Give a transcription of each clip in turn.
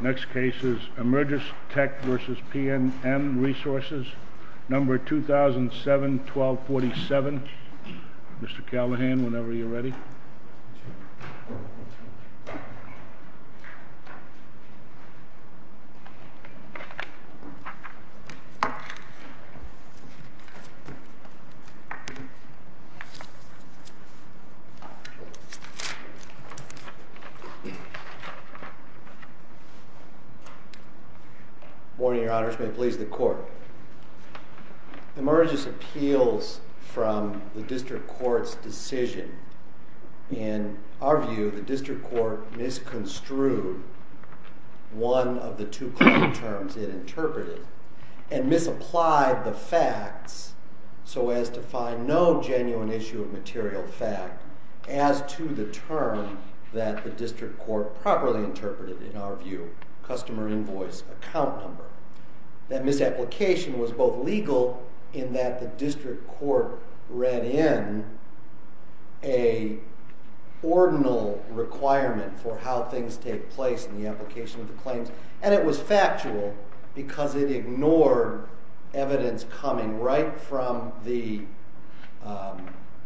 Next case is Emergency Tech v. PNM Resources, number 2007-1247, Mr. Callahan, whenever you are ready. Morning, your honors. May it please the court. Emergency appeals from the district court's decision. In our view, the district court misconstrued one of the two claims it interpreted and misapplied the facts so as to find no genuine issue of material fact as to the term that the district court properly interpreted, in our view, customer invoice account number. That misapplication was both legal in that the district court read in an ordinal requirement for how things take place in the application of the claims, and it was factual because it ignored evidence coming right from the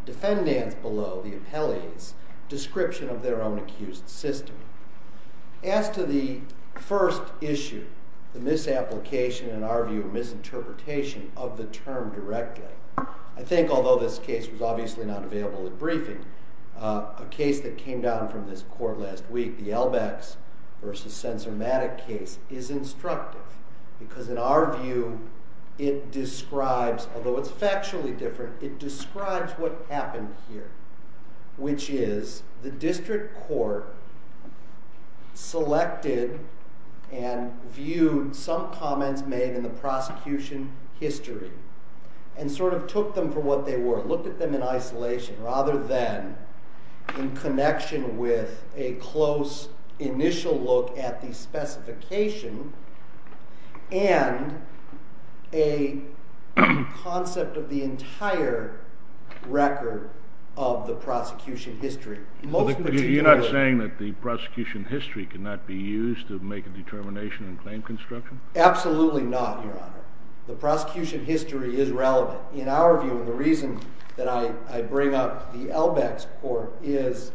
defendants below, the appellees, description of their own accused system. As to the first issue, the misapplication, in our view, misinterpretation of the term directly, I think although this case was obviously not available at briefing, a case that came down from this court last week, the Helbecks v. Sensormatic case, is instructive because in our view it describes, although it's factually different, it describes what happened here, which is the district court selected and viewed some comments made in the prosecution history and sort of took them for what they were, looked at them in isolation rather than in connection with a close initial look at the specification and a concept of the entire record of the prosecution history. You're not saying that the prosecution history cannot be used to make a determination in claim construction? Absolutely not, your honor. The prosecution history is relevant. In our view, the reason that I bring up the Helbecks court is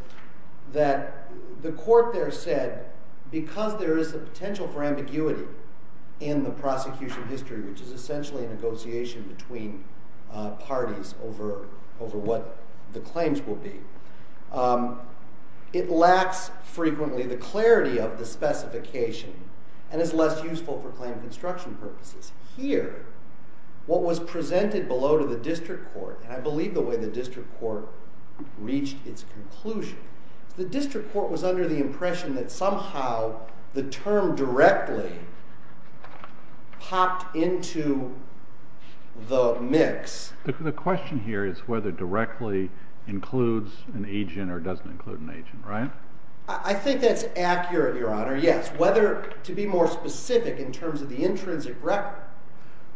that the court there said because there is a potential for ambiguity in the prosecution history, which is essentially a negotiation between parties over what the claims will be, it lacks frequently the clarity of the specification and is less useful for claim construction purposes. Here, what was I believe the way the district court reached its conclusion. The district court was under the impression that somehow the term directly popped into the mix. The question here is whether directly includes an agent or doesn't include an agent, right? I think that's accurate, your honor, yes. Whether, to be more specific in terms of the intrinsic record,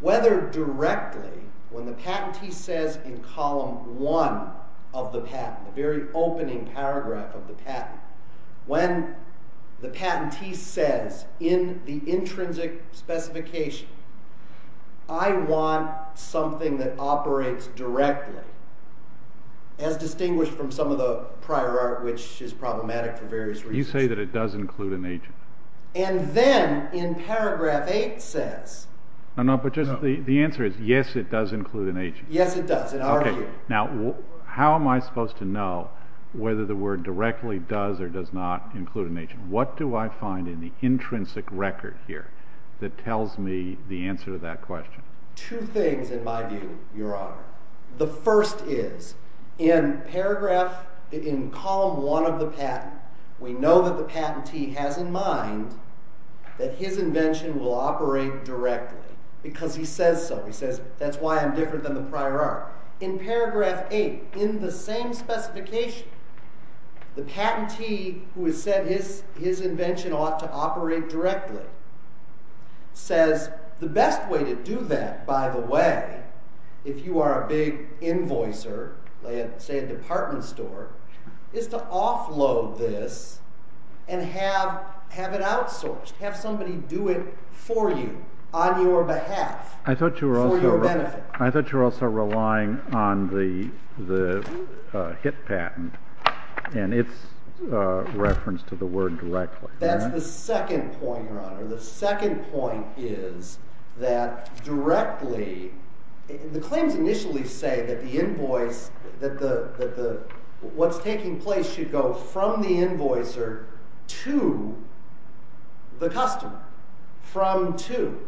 whether directly, when the patentee says in column one of the patent, the very opening paragraph of the patent, when the patentee says in the intrinsic specification, I want something that operates directly, as distinguished from some of the prior art which is problematic for various reasons. You say that it does include an agent. And then in paragraph eight says... No, no, but just the answer is yes, it does include an agent. Yes, it does in our view. Now, how am I supposed to know whether the word directly does or does not include an agent? What do I find in the intrinsic record here that tells me the answer to that question? Two things in my view, your honor. The first is, in paragraph, in column one of the patent, we know that the patentee has in mind that his invention will operate directly because he says so. He says, that's why I'm different than the prior art. In paragraph eight, in the same specification, the patentee who has said his invention ought to operate directly says, the best way to do that, by the way, if you are a big invoicer, say a department store, is to offload this and have it outsourced, have somebody do it for you, on your behalf, for your benefit. I thought you were also relying on the HIT patent and its reference to the word directly. That's the second point, your honor. The second point is that directly, the claims initially say that the invoice, that what's taking place should go from the invoicer to the customer. From to.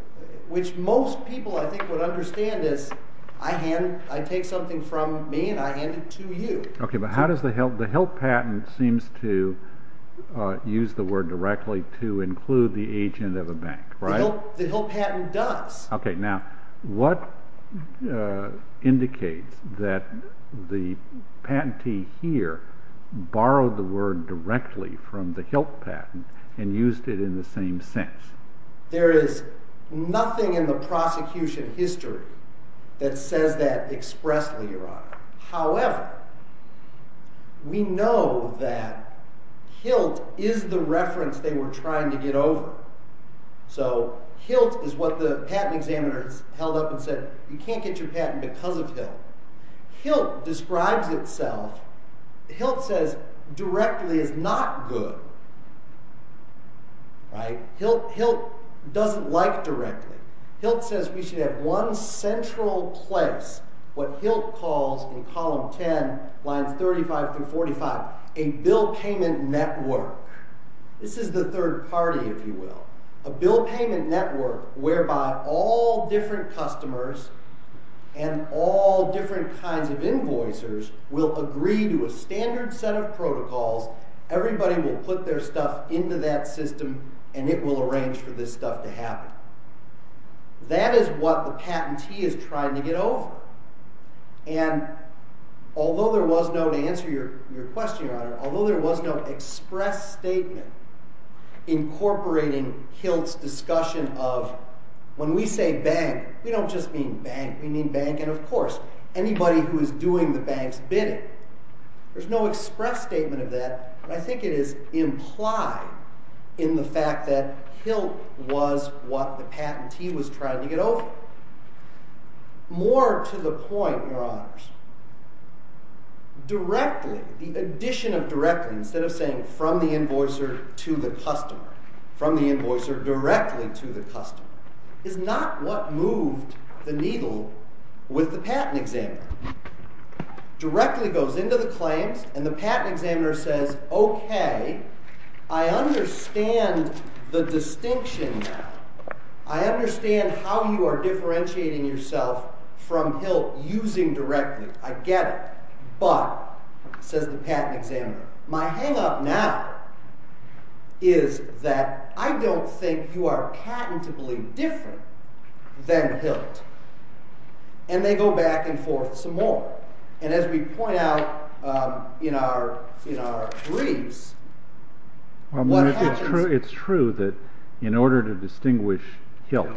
Which most people, I think, would understand as, I take something from me and I hand it to you. But how does the HILT patent seem to use the word directly to include the agent of a bank? The HILT patent does. Now, what indicates that the patentee here borrowed the word directly from the HILT patent and used it in the same sense? There is nothing in the prosecution history that says that expressly, your honor. However, we know that HILT is the reference they were trying to get over. So HILT is what the patent examiners held up and said, you can't get your patent because of HILT. HILT describes itself, HILT says directly is not good. HILT doesn't like directly. HILT says we should have one central place, what HILT calls in column 10, lines 35 through 45, a bill payment network. This is the third party, if you will. A bill payment network whereby all different customers and all different kinds of invoicers will agree to a standard set of protocols. Everybody will put their stuff into that system and it will arrange for this stuff to happen. That is what the patentee is trying to get over. And although there was no, to answer your question, your honor, although there was no express statement incorporating HILT's discussion of when we say bank, we don't just mean bank. We mean bank and of course anybody who is doing the bank's bidding. There is no express statement of that, but I think it is implied in the fact that HILT was what the patentee was trying to get over. More to the point, your honors, directly, the addition of directly, instead of saying from the invoicer to the customer, from the invoicer directly to the customer, is not what moved the needle with the patent examiner. Directly goes into the claims and the patent examiner says, okay, I understand the distinction now. I understand how you are differentiating yourself from HILT using directly. I get it. But, says the patent examiner, my hang up now is that I don't think you are patentably different than HILT. And they go back and forth some more. And as we point out in our briefs, what happens... It's true that in order to distinguish HILT,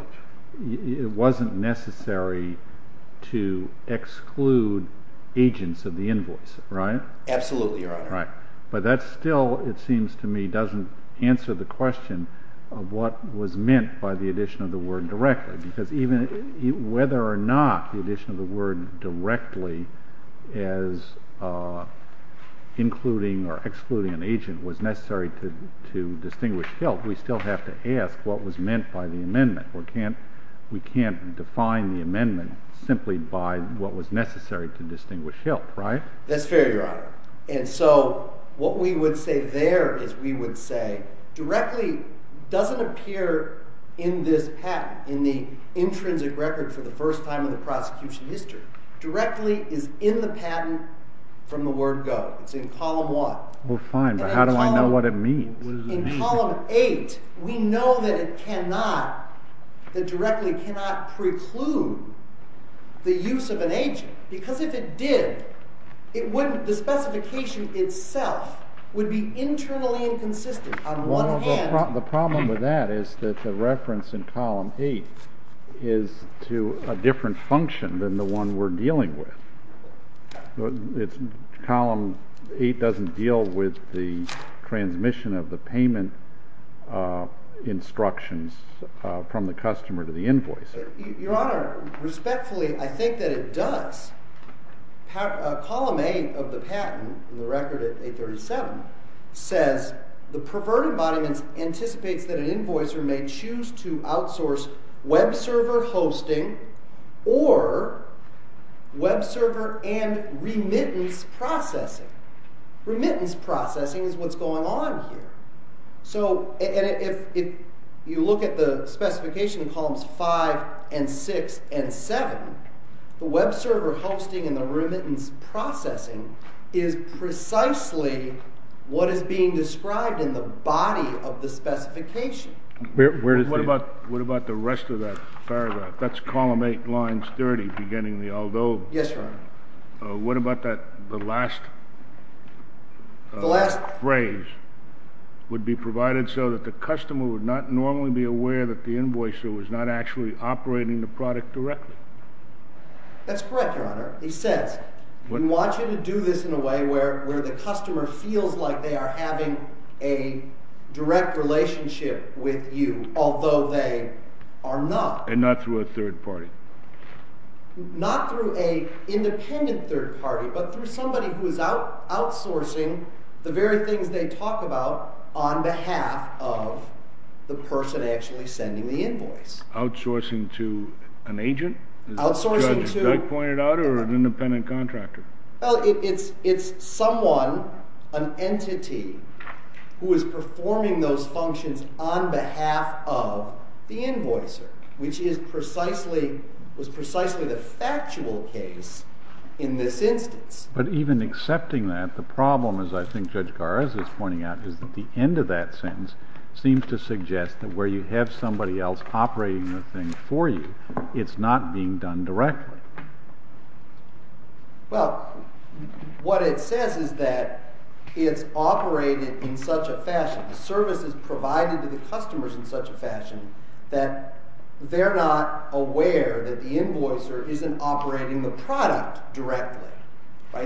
it wasn't necessary to exclude agents of the invoice, right? Absolutely, your honor. But that still, it seems to me, doesn't answer the question of what was meant by the addition of the word directly. Because even whether or not the addition of the word directly as including or excluding an agent was necessary to distinguish HILT, we still have to ask what was meant by the amendment. We can't define the amendment simply by what was necessary to distinguish HILT, right? That's fair, your honor. And so, what we would say there is we would say directly doesn't appear in this patent, in the intrinsic record for the first time in the prosecution history. Directly is in the patent from the word go. It's in column one. Well fine, but how do I know what it means? In column eight, we know that it cannot, that directly cannot preclude the use of an agent. Because if it did, it wouldn't, the specification itself would be internally inconsistent on one hand. The problem with that is that the reference in column eight is to a different function than the one we're dealing with. Column eight doesn't deal with the transmission of the payment instructions from the customer to the invoicer. Your honor, respectfully, I think that it does. Column eight of the patent, in the record at 837, says the perverted body anticipates that an invoicer may choose to outsource web server hosting or web server and remittance processing. Remittance processing is what's going on here. So, and if you look at the specification in columns five and six and seven, the web server hosting and the remittance processing is precisely what is being described in the body of the specification. What about the rest of that paragraph? That's column eight, lines 30, beginning with the although. Yes, your honor. What about that, the last phrase, would be provided so that the customer would not normally be aware that the invoicer was not actually operating the product directly? That's correct, your honor. He says, we want you to do this in a way where the customer feels like they are having a direct relationship with you, although they are not. And not through a third party. Not through an independent third party, but through somebody who is outsourcing the very things they talk about on behalf of the person actually sending the invoice. Outsourcing to an agent? Outsourcing to... As Judge Dug pointed out, or an independent contractor? Well, it's someone, an entity, who is performing those functions on behalf of the invoicer, which is precisely, was precisely the factual case in this instance. But even accepting that, the problem, as I think Judge Garza is pointing out, is that the end of that sentence seems to suggest that where you have somebody else operating the thing for you, it's not being done directly. Well, what it says is that it's operated in such a fashion, the service is provided to the customers in such a fashion, that they're not aware that the invoicer isn't operating the product directly.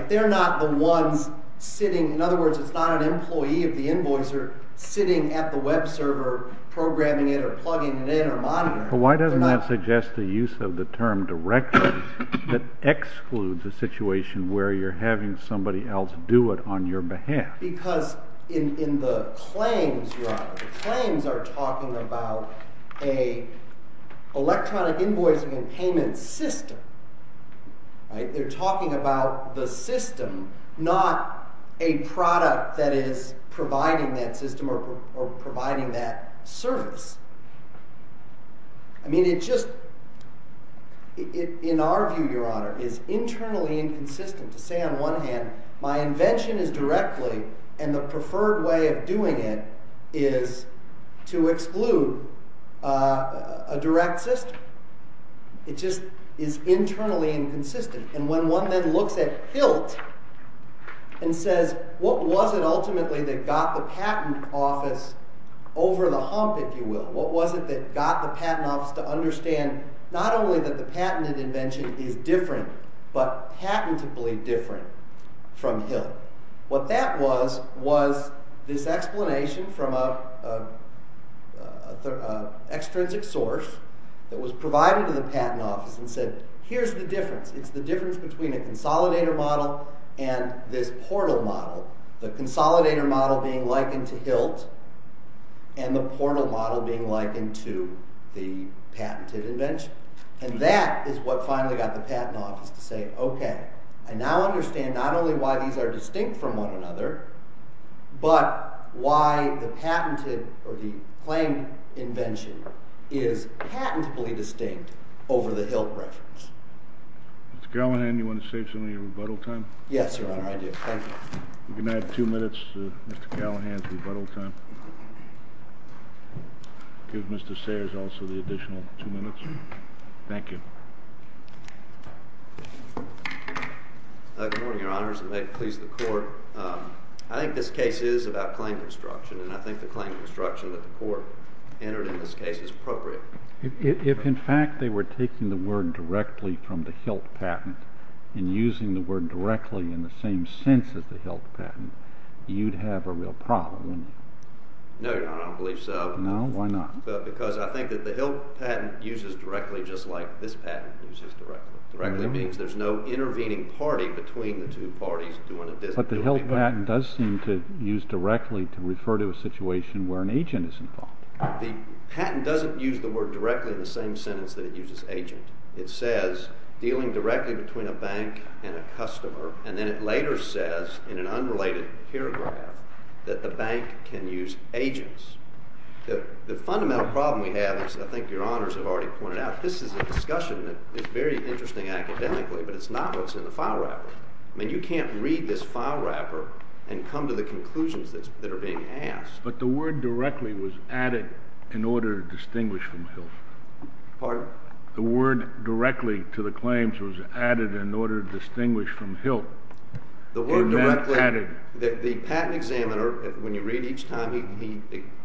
They're not the ones sitting, in other words, it's not an employee of the invoicer sitting at the web server, programming it, or plugging it in, or monitoring it. But why doesn't that suggest the use of the term directly that excludes a situation where you're having somebody else do it on your behalf? Because in the claims, your honor, the claims are talking about an electronic invoicing and payment system, right? They're talking about the system, not a product that is providing that system or providing that service. I mean, it just, in our view, your honor, is internally inconsistent to say on one hand, my invention is directly, and the preferred way of doing it is to exclude a direct system. It just is internally inconsistent. And when one then looks at HILT and says, what was it ultimately that got the patent office over the hump, if you will? What was it that got the patent office to understand not only that the patented invention is different, but patentably different from HILT? What that was, was this explanation from an extrinsic source that was provided to the patent office and said, here's the difference. It's the difference between a consolidator model and this portal model, the consolidator model being likened to HILT and the portal model being likened to the patented invention. And that is what finally got the patent office to say, okay, I now understand not only why these are distinct from one another, but why the patented or the claimed invention is patentably distinct over the HILT reference. Mr. Callahan, do you want to save some of your rebuttal time? Yes, your honor, I do. Thank you. You can add two minutes to Mr. Callahan's rebuttal time. Give Mr. Sayers also the additional two minutes. Thank you. Good morning, your honors, and may it please the court. I think this case is about claim construction, and I think the claim construction that the court entered in this case is appropriate. If, in fact, they were taking the word directly from the HILT patent and using the word directly in the same sense as the HILT patent, you'd have a real problem, wouldn't you? No, your honor, I don't believe so. No? Why not? Because I think that the HILT patent uses directly just like this patent uses directly. Directly means there's no intervening party between the two parties doing a disability patent. But the HILT patent does seem to use directly to refer to a situation where an agent is involved. The patent doesn't use the word directly in the same sentence that it uses agent. It says dealing directly between a bank and a customer, and then it later says in an unrelated paragraph that the bank can use agents. The fundamental problem we have is, I think your honors have already pointed out, this is a discussion that is very interesting academically, but it's not what's in the file wrapper. I mean, you can't read this file wrapper and come to the conclusions that are being asked. But the word directly was added in order to distinguish from HILT. Pardon? The word directly to the claims was added in order to distinguish from HILT. The word directly, the patent examiner, when you read each time, he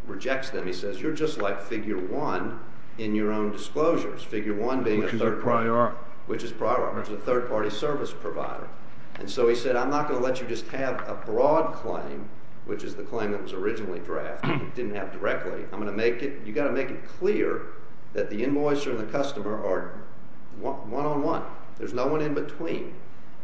rejects them. He says, you're just like figure one in your own disclosures. Figure one being a third party. Which is a priori. Which is priori, which is a third party service provider. And so he said, I'm not going to let you just have a broad claim, which is the claim that was originally drafted, didn't have directly. I'm going to make it, you've got to make it clear that the invoicer and the customer are one on one. There's no one in between.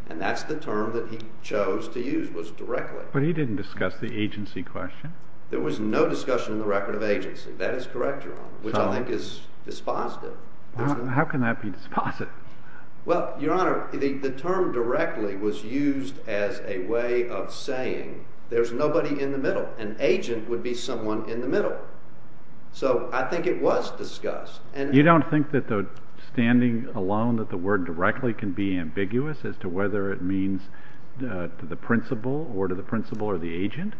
And that's the term that he chose to use, was directly. But he didn't discuss the agency question. There was no discussion in the record of agency. That is correct, your honor. Which I think is dispositive. How can that be dispositive? Well, your honor, the term directly was used as a way of saying, there's nobody in the middle. An agent would be someone in the middle. So I think it was discussed. You don't think that the standing alone that the word directly can be ambiguous as to whether it means to the principal, or to the principal, or the agent?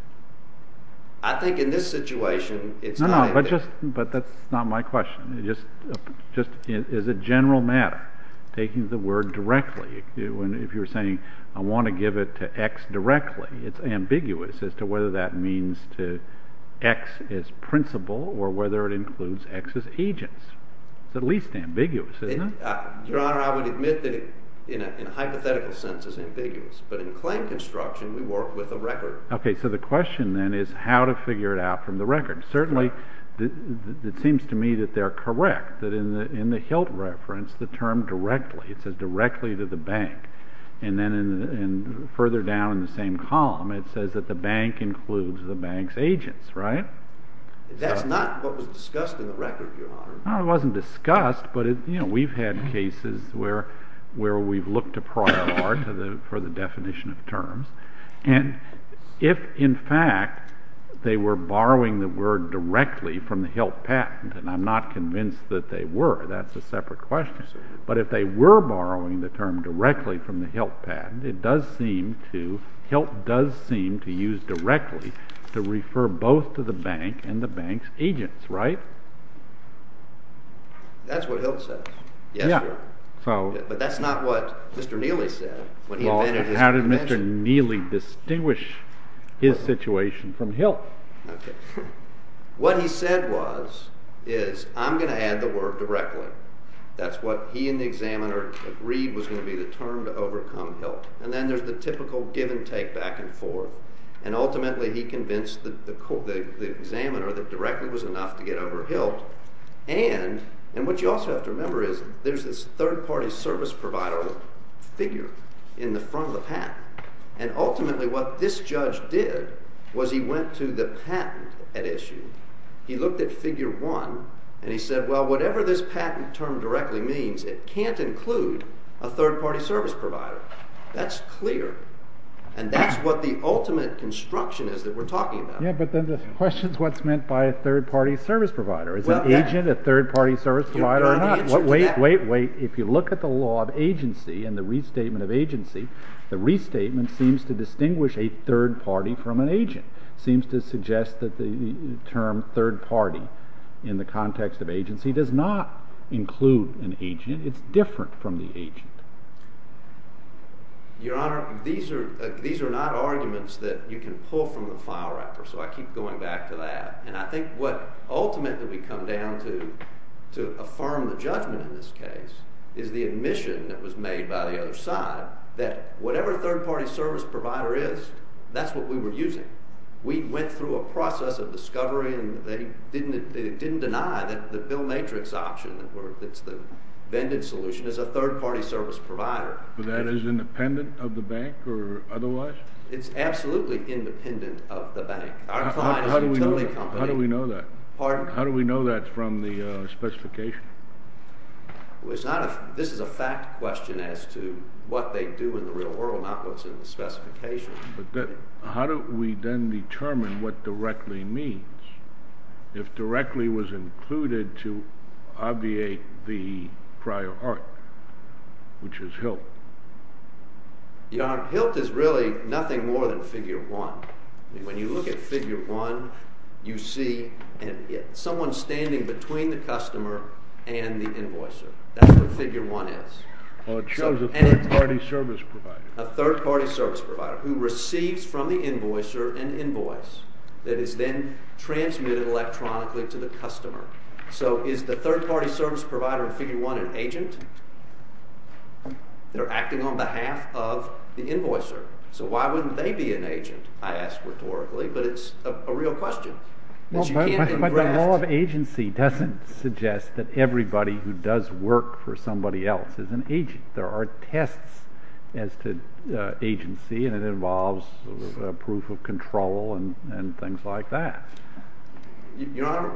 I think in this situation, it's not. No, no, but that's not my question. Is it general matter? Taking the word directly. And if you're saying, I want to give it to X directly, it's ambiguous as to whether that means to X as principal, or whether it includes X as agents. It's at least ambiguous, isn't it? Your honor, I would admit that in a hypothetical sense, it's ambiguous. But in claim construction, we work with a record. OK, so the question then is how to figure it out from the record. Certainly, it seems to me that they're correct. That in the HILT reference, the term directly, it says directly to the bank. And then further down in the same column, it says that the bank includes the bank's agents, right? That's not what was discussed in the record, your honor. No, it wasn't discussed. But we've had cases where we've looked to prior art for the definition of terms. And if, in fact, they were borrowing the word directly from the HILT patent, and I'm not convinced that they were, that's a separate question. But if they were borrowing the term directly from the HILT patent, it does seem to, HILT does seem to use directly to refer both to the bank and the bank's agents, right? That's what HILT says. Yes, your honor. But that's not what Mr. Neely said. How did Mr. Neely distinguish his situation from HILT? OK. What he said was, is I'm going to add the word directly. That's what he and the examiner agreed was going to be the term to overcome HILT. And then there's the typical give and take back and forth. And ultimately, he convinced the examiner that directly was enough to get over HILT. And what you also have to remember is there's this third party service provider figure in the front of the patent. And ultimately, what this judge did was he went to the patent at issue, he looked at figure one, and he said, well, whatever this patent term directly means, it can't include a third party service provider. That's clear. And that's what the ultimate construction is that we're talking about. Yeah, but then the question is what's meant by a third party service provider? Is an agent a third party service provider or not? Wait, wait, wait. If you look at the law of agency and the restatement of agency, the restatement seems to distinguish a third party from an agent. It seems to suggest that the term third party in the context of agency does not include an agent. It's different from the agent. Your Honor, these are not arguments that you can pull from the file wrapper. So I keep going back to that. And I think what ultimately we come down to, to affirm the judgment in this case, is the admission that was made by the other side that whatever third party service provider is, that's what we were using. We went through a process of discovery, and they didn't deny that the Bill Matrix option that's the vended solution is a third party service provider. But that is independent of the bank or otherwise? It's absolutely independent of the bank. How do we know that? How do we know that from the specification? This is a fact question as to what they do in the real world, not what's in the specification. But how do we then determine what directly means? If directly was included to obviate the prior art, which is HILT? Your Honor, HILT is really nothing more than figure one. When you look at figure one, you see someone standing between the customer and the invoicer. That's what figure one is. So it shows a third party service provider. A third party service provider who receives from the invoicer an invoice that is then transmitted electronically to the customer. So is the third party service provider in figure one an agent? They're acting on behalf of the invoicer. So why wouldn't they be an agent? I ask rhetorically. But it's a real question. But you can't ingress. But the law of agency doesn't suggest that everybody who does work for somebody else is an agent. There are tests as to agency. And it involves proof of control and things like that. Your Honor,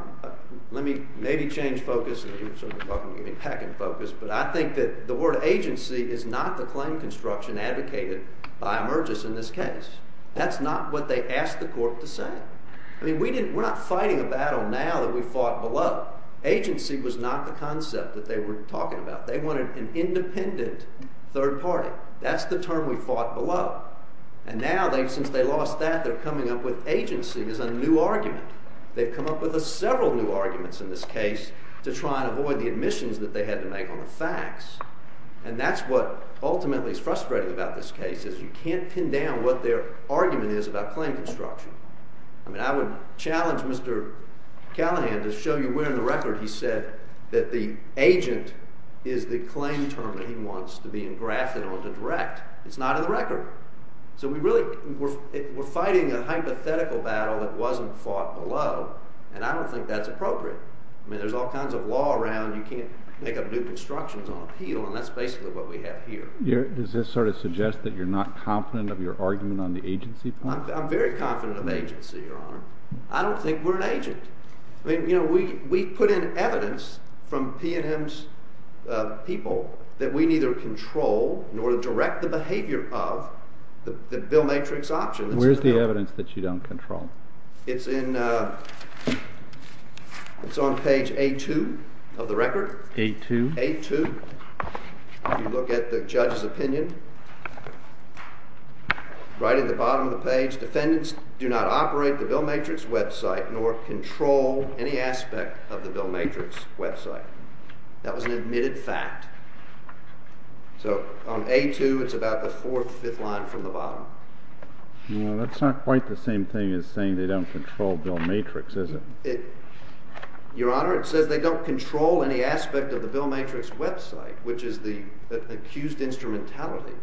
let me maybe change focus. And you were sort of talking to me packing focus. But I think that the word agency is not the claim construction advocated by Emergis in this case. That's not what they asked the court to say. I mean, we're not fighting a battle now that we fought below. Agency was not the concept that they were talking about. They wanted an independent third party. That's the term we fought below. And now, since they lost that, they're coming up with agency as a new argument. They've come up with several new arguments in this case to try and avoid the admissions that they had to make on the facts. And that's what ultimately is frustrating about this case is you can't pin down what their argument is about claim construction. I mean, I would challenge Mr. Callahan to show you where in the record he said that the agent is the claim term that he wants to be engrafted on to direct. It's not in the record. So we're fighting a hypothetical battle that wasn't fought below. And I don't think that's appropriate. I mean, there's all kinds of law around. You can't make up new constructions on appeal. And that's basically what we have here. Does this sort of suggest that you're not confident of your argument on the agency? I'm very confident of agency, Your Honor. I don't think we're an agent. I mean, we put in evidence from P&M's people that we neither control nor direct the behavior of the bill matrix option. Where's the evidence that you don't control? It's on page A2 of the record. A2? A2. If you look at the judge's opinion, right at the bottom of the page, defendants do not operate the bill matrix website nor control any aspect of the bill matrix website. That was an admitted fact. So on A2, it's about the fourth, fifth line from the bottom. Well, that's not quite the same thing as saying they don't control bill matrix, is it? Your Honor, it says they don't control any aspect of the bill matrix website, which is the accused instrumentality.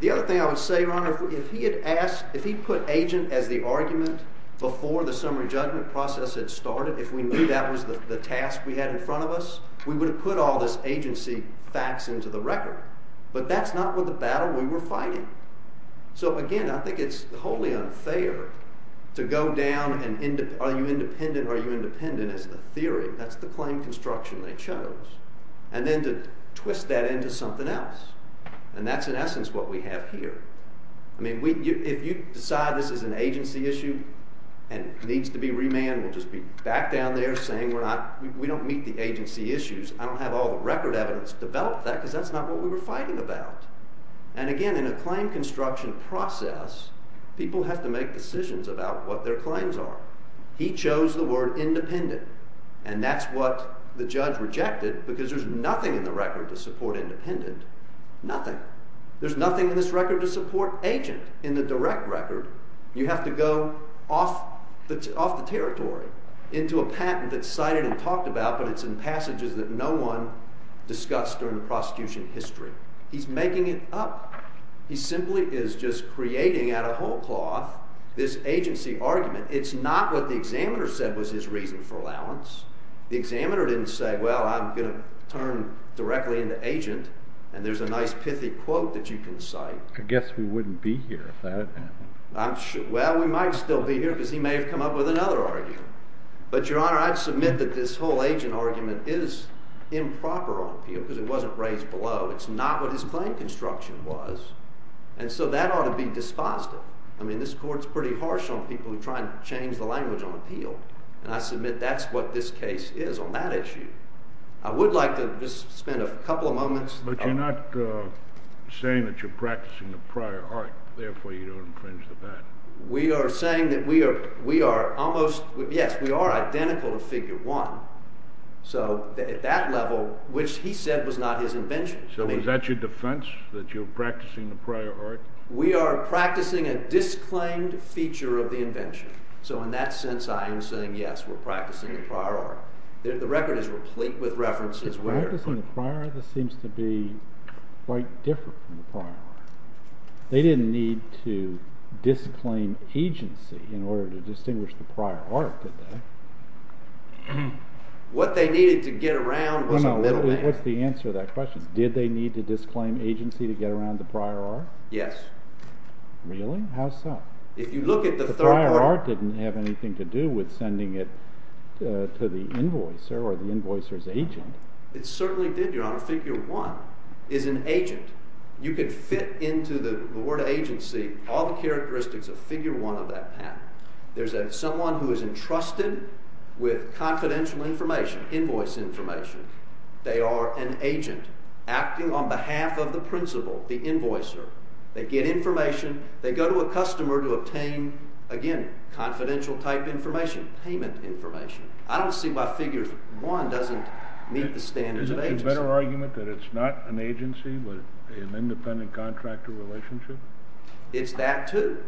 The other thing I would say, Your Honor, if he had asked, if he put agent as the argument before the summary judgment process had started, if we knew that was the task we had in front of us, we would have put all this agency facts into the record. But that's not what the battle we were fighting. So again, I think it's wholly unfair to go down and are you independent or are you independent as the theory. That's the claim construction they chose. And then to twist that into something else. And that's, in essence, what we have here. I mean, if you decide this is an agency issue and needs to be remanded, we'll just be back down there saying we don't meet the agency issues. I don't have all the record evidence to develop that because that's not what we were fighting about. And again, in a claim construction process, people have to make decisions about what their claims are. He chose the word independent and that's what the judge rejected because there's nothing in the record to support independent. Nothing. There's nothing in this record to support agent. In the direct record, you have to go off the territory into a patent that's cited and talked about, but it's in passages that no one discussed during the prosecution history. He's making it up. He simply is just creating out of whole cloth this agency argument. It's not what the examiner said was his reason for allowance. The examiner didn't say, well, I'm going to turn directly into agent. And there's a nice pithy quote that you can cite. I guess we wouldn't be here if that had happened. I'm sure. Well, we might still be here because he may have come up with another argument. But, Your Honor, I'd submit that this whole agent argument is improper on appeal because it wasn't raised below. It's not what his claim construction was. And so that ought to be disposed of. I mean, this court's pretty harsh on people who try and change the language on appeal. And I submit that's what this case is on that issue. I would like to just spend a couple of moments. But you're not saying that you're practicing the prior art. Therefore, you don't infringe the patent. We are saying that we are almost, yes, we are identical to figure one. So at that level, which he said was not his invention. Is that your defense, that you're practicing the prior art? We are practicing a disclaimed feature of the invention. So in that sense, I am saying, yes, we're practicing the prior art. The record is replete with references. We're practicing the prior art. This seems to be quite different from the prior art. They didn't need to disclaim agency in order to distinguish the prior art, did they? What they needed to get around was a middleman. What's the answer to that question? Did they need to disclaim agency to get around the prior art? Yes. Really? How so? If you look at the prior art, it didn't have anything to do with sending it to the invoicer or the invoicer's agent. It certainly did, Your Honor. Figure one is an agent. You could fit into the word agency all the characteristics of figure one of that patent. There's someone who is entrusted with confidential information, invoice information. They are an agent acting on behalf of the principal, the invoicer. They get information. They go to a customer to obtain, again, confidential type information, payment information. I don't see why figure one doesn't meet the standards of agency. Isn't it a better argument that it's not an agency with an independent contractor relationship? It's that, too.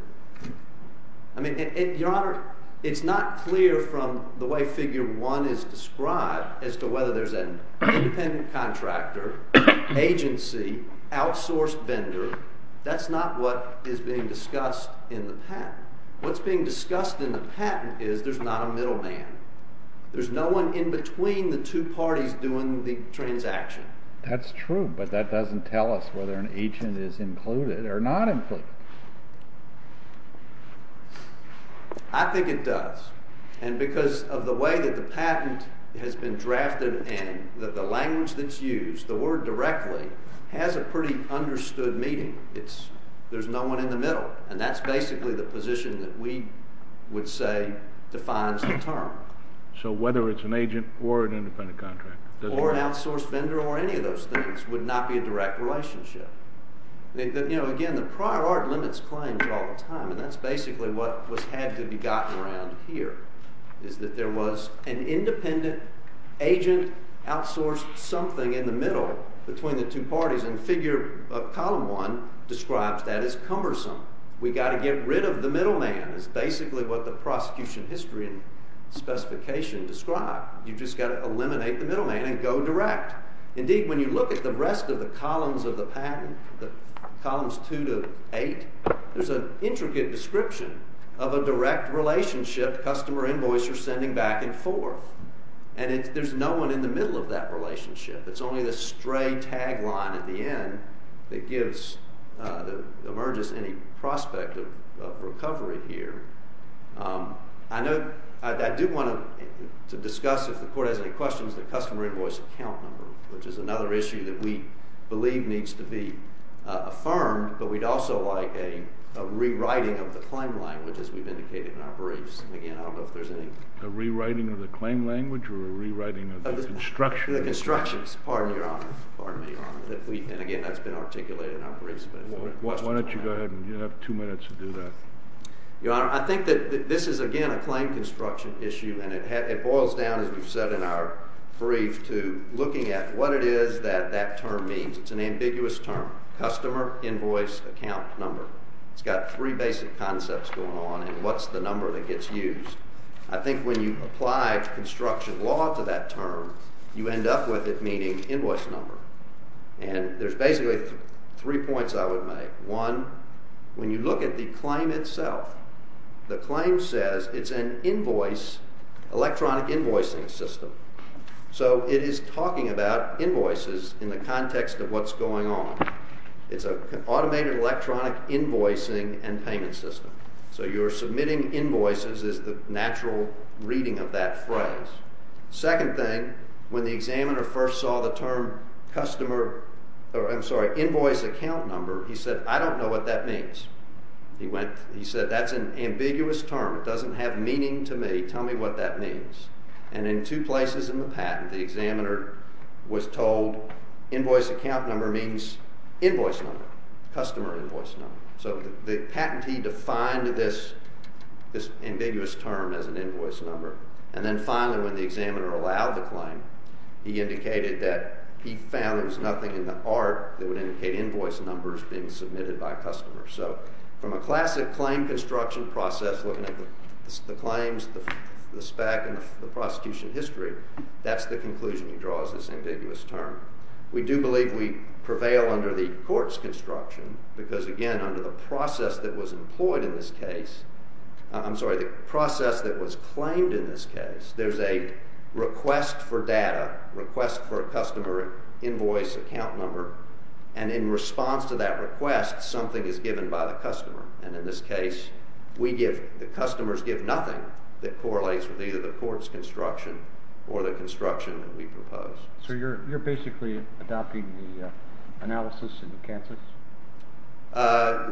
I mean, Your Honor, it's not clear from the way figure one is described as to whether there's an independent contractor, agency, outsourced vendor. That's not what is being discussed in the patent. What's being discussed in the patent is there's not a middleman. There's no one in between the two parties doing the transaction. That's true, but that doesn't tell us whether an agent is included or not included. I think it does, and because of the way that the patent has been drafted and that the language that's used, the word directly, has a pretty understood meaning. There's no one in the middle, and that's basically the position that we would say defines the term. So whether it's an agent or an independent contractor? Or an outsourced vendor or any of those things would not be a direct relationship. Again, the prior art limits claims all the time, and that's basically what had to be gotten around here, is that there was an independent agent outsourced something in the middle between the two parties, and column one describes that as cumbersome. We've got to get rid of the middleman is basically what the prosecution history and specification describe. You've just got to eliminate the middleman and go direct. Indeed, when you look at the rest of the columns of the patent, columns two to eight, there's an intricate description of a direct relationship customer invoice are sending back and forth. And there's no one in the middle of that relationship. It's only the stray tagline at the end that emerges any prospect of recovery here. I do want to discuss, if the court has any questions, the customer invoice account number, which is another issue that we believe needs to be affirmed. But we'd also like a rewriting of the claim language, as we've indicated in our briefs. Again, I don't know if there's any. A rewriting of the claim language or a rewriting of the construction? The constructions. Pardon me, Your Honor. Pardon me, Your Honor. And again, that's been articulated in our briefs. Why don't you go ahead, and you have two minutes to do that. Your Honor, I think that this is, again, a claim construction issue, and it boils down, as we've said in our brief, to looking at what it is that that term means. It's an ambiguous term. Customer invoice account number. It's got three basic concepts going on, and what's the number that gets used. I think when you apply construction law to that term, you end up with it meaning invoice number. And there's basically three points I would make. One, when you look at the claim itself, the claim says it's an invoice, electronic invoicing system. So it is talking about invoices in the context of what's going on. It's an automated electronic invoicing and payment system. So you're submitting invoices is the natural reading of that phrase. Second thing, when the examiner first saw the term invoice account number, he said, I don't know what that means. He went, he said, that's an ambiguous term. It doesn't have meaning to me. Tell me what that means. And in two places in the patent, the examiner was told invoice account number means invoice number, customer invoice number. So the patentee defined this ambiguous term as an invoice number. And then finally, when the examiner allowed the claim, he indicated that he found there was nothing in the art that would indicate invoice numbers being submitted by customers. So from a classic claim construction process, looking at the claims, the spec and the prosecution history, that's the conclusion he draws this ambiguous term. We do believe we prevail under the court's construction because again, under the process that was employed in this case, I'm sorry, the process that was claimed in this case, there's a request for data request for a customer invoice account number. And in response to that request, something is given by the customer. And in this case, we give the customers give nothing that correlates with either the court's construction or the construction that we propose. So you're basically adopting the analysis in Kansas?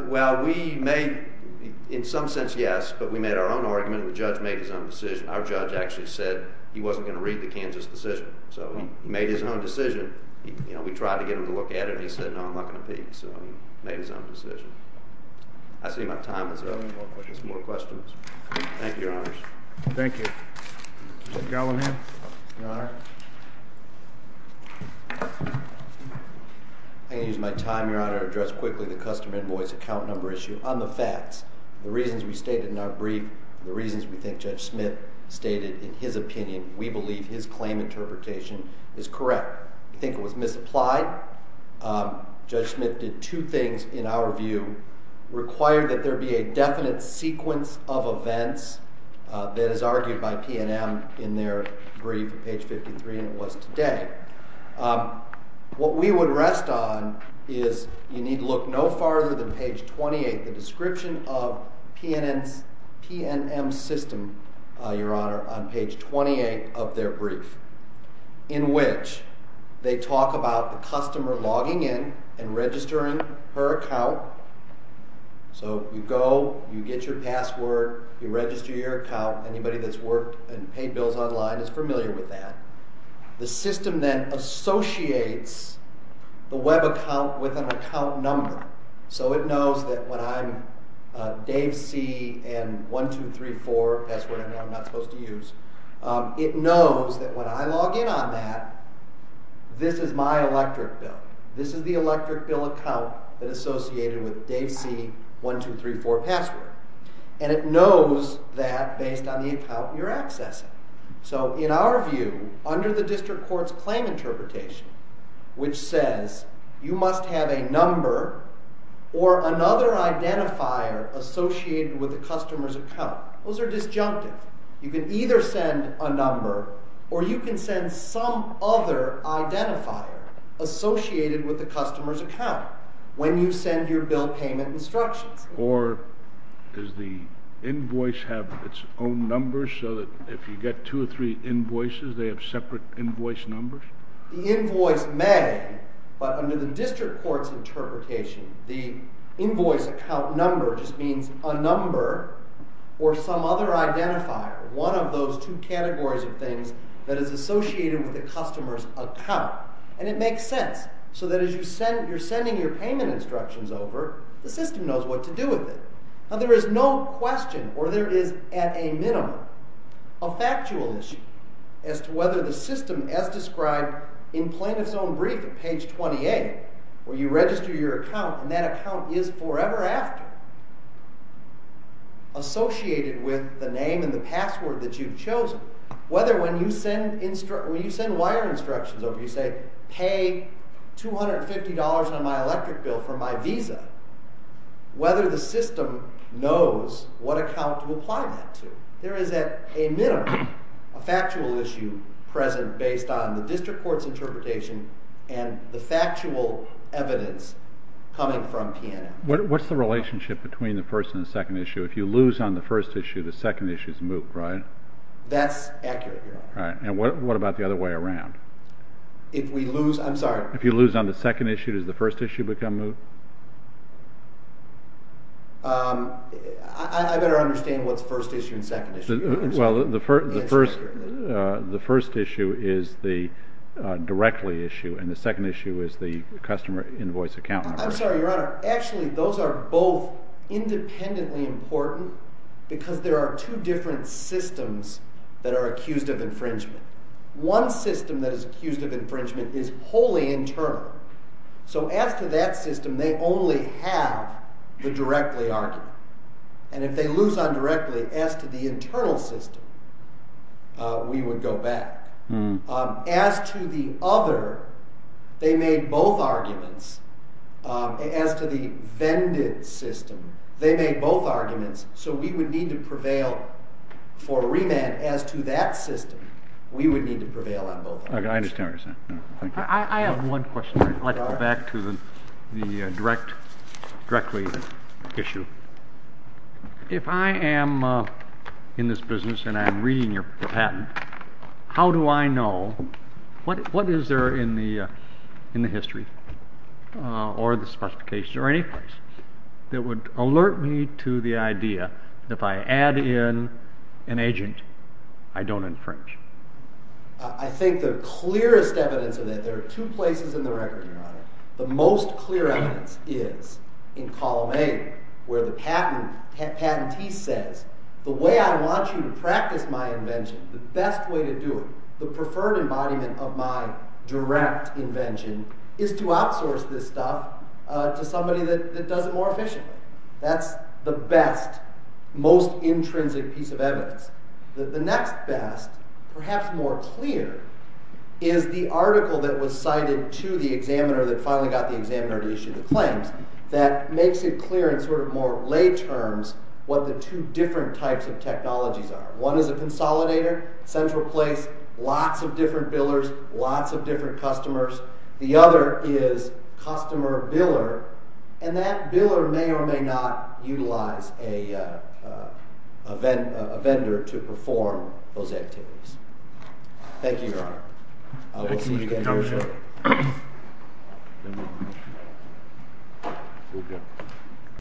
Well, we made in some sense, yes, but we made our own argument. The judge made his own decision. Our judge actually said he wasn't going to read the Kansas decision. So he made his own decision. We tried to get him to look at it. He said, no, I'm not going to read it. So he made his own decision. I see my time is up. Any more questions? Thank you, Your Honors. Thank you. Judge Gallivan, Your Honor. I'm going to use my time, Your Honor, to address quickly the customer invoice account number issue on the facts. The reasons we stated in our brief, the reasons we think Judge Smith stated in his opinion, we believe his claim interpretation is correct. I think it was misapplied. Judge Smith did two things in our view, required that there be a definite sequence of events that is argued by PNM in their brief, page 53, and it was today. What we would rest on is you need to look no farther than page 28, the description of they talk about the customer logging in and registering her account. So you go, you get your password, you register your account. Anybody that's worked and paid bills online is familiar with that. The system then associates the web account with an account number. So it knows that when I'm Dave C and 1234, password I'm not supposed to use, it knows that when I log in on that, this is my electric bill. This is the electric bill account that associated with Dave C 1234 password. And it knows that based on the account you're accessing. So in our view, under the district court's claim interpretation, which says you must have a number or another identifier associated with the customer's account. Those are disjunctive. You can either send a number or you can send some other identifier associated with the customer's account when you send your bill payment instructions. Or does the invoice have its own numbers so that if you get two or three invoices, they have separate invoice numbers? The invoice may, but under the district court's interpretation, the invoice account number just means a number or some other identifier. One of those two categories of things that is associated with the customer's account. And it makes sense. So that as you send, you're sending your payment instructions over, the system knows what to do with it. Now there is no question or there is at a minimum a factual issue as to whether the system as described in plaintiff's own brief at page 28, where you register your account and that account is forever after, associated with the name and the password that you've chosen. Whether when you send wire instructions over, you say, pay $250 on my electric bill for my visa, whether the system knows what account to apply that to. There is at a minimum a factual issue present based on the district court's interpretation and the factual evidence coming from P&M. What's the relationship between the first and the second issue? If you lose on the first issue, the second issue is moot, right? That's accurate. Right. And what about the other way around? If we lose, I'm sorry. If you lose on the second issue, does the first issue become moot? I better understand what's first issue and second issue. Well, the first issue is the directly issue and the second issue is the customer invoice account number. I'm sorry, Your Honor. Actually, those are both independently important because there are two different systems that are accused of infringement. One system that is accused of infringement is wholly internal. So as to that system, they only have the directly argument. And if they lose on directly as to the internal system, we would go back. As to the other, they made both arguments. As to the vended system, they made both arguments. So we would need to prevail for remand as to that system. We would need to prevail on both. Okay. I understand what you're saying. Thank you. I have one question. I'd like to go back to the directly issue. If I am in this business and I'm reading your patent, how do I know what is there in the history or the specifications or any place that would alert me to the idea that if I add in an agent, I don't infringe? I think the clearest evidence of that, there are two places in the record, Your Honor. The most clear evidence is in column A where the patentee says, the way I want you to practice my invention, the best way to do it, the preferred embodiment of my direct invention is to outsource this stuff to somebody that does it more efficiently. That's the best, most intrinsic piece of evidence. The next best, perhaps more clear, is the article that was cited to the examiner that finally got the examiner to issue the claims that makes it clear in sort of more lay terms what the two different types of technologies are. One is a consolidator, central place, lots of different billers, lots of different customers. The other is customer biller and that biller may or may not utilize a vendor to perform those activities. Thank you, Your Honor. I will see you again very shortly.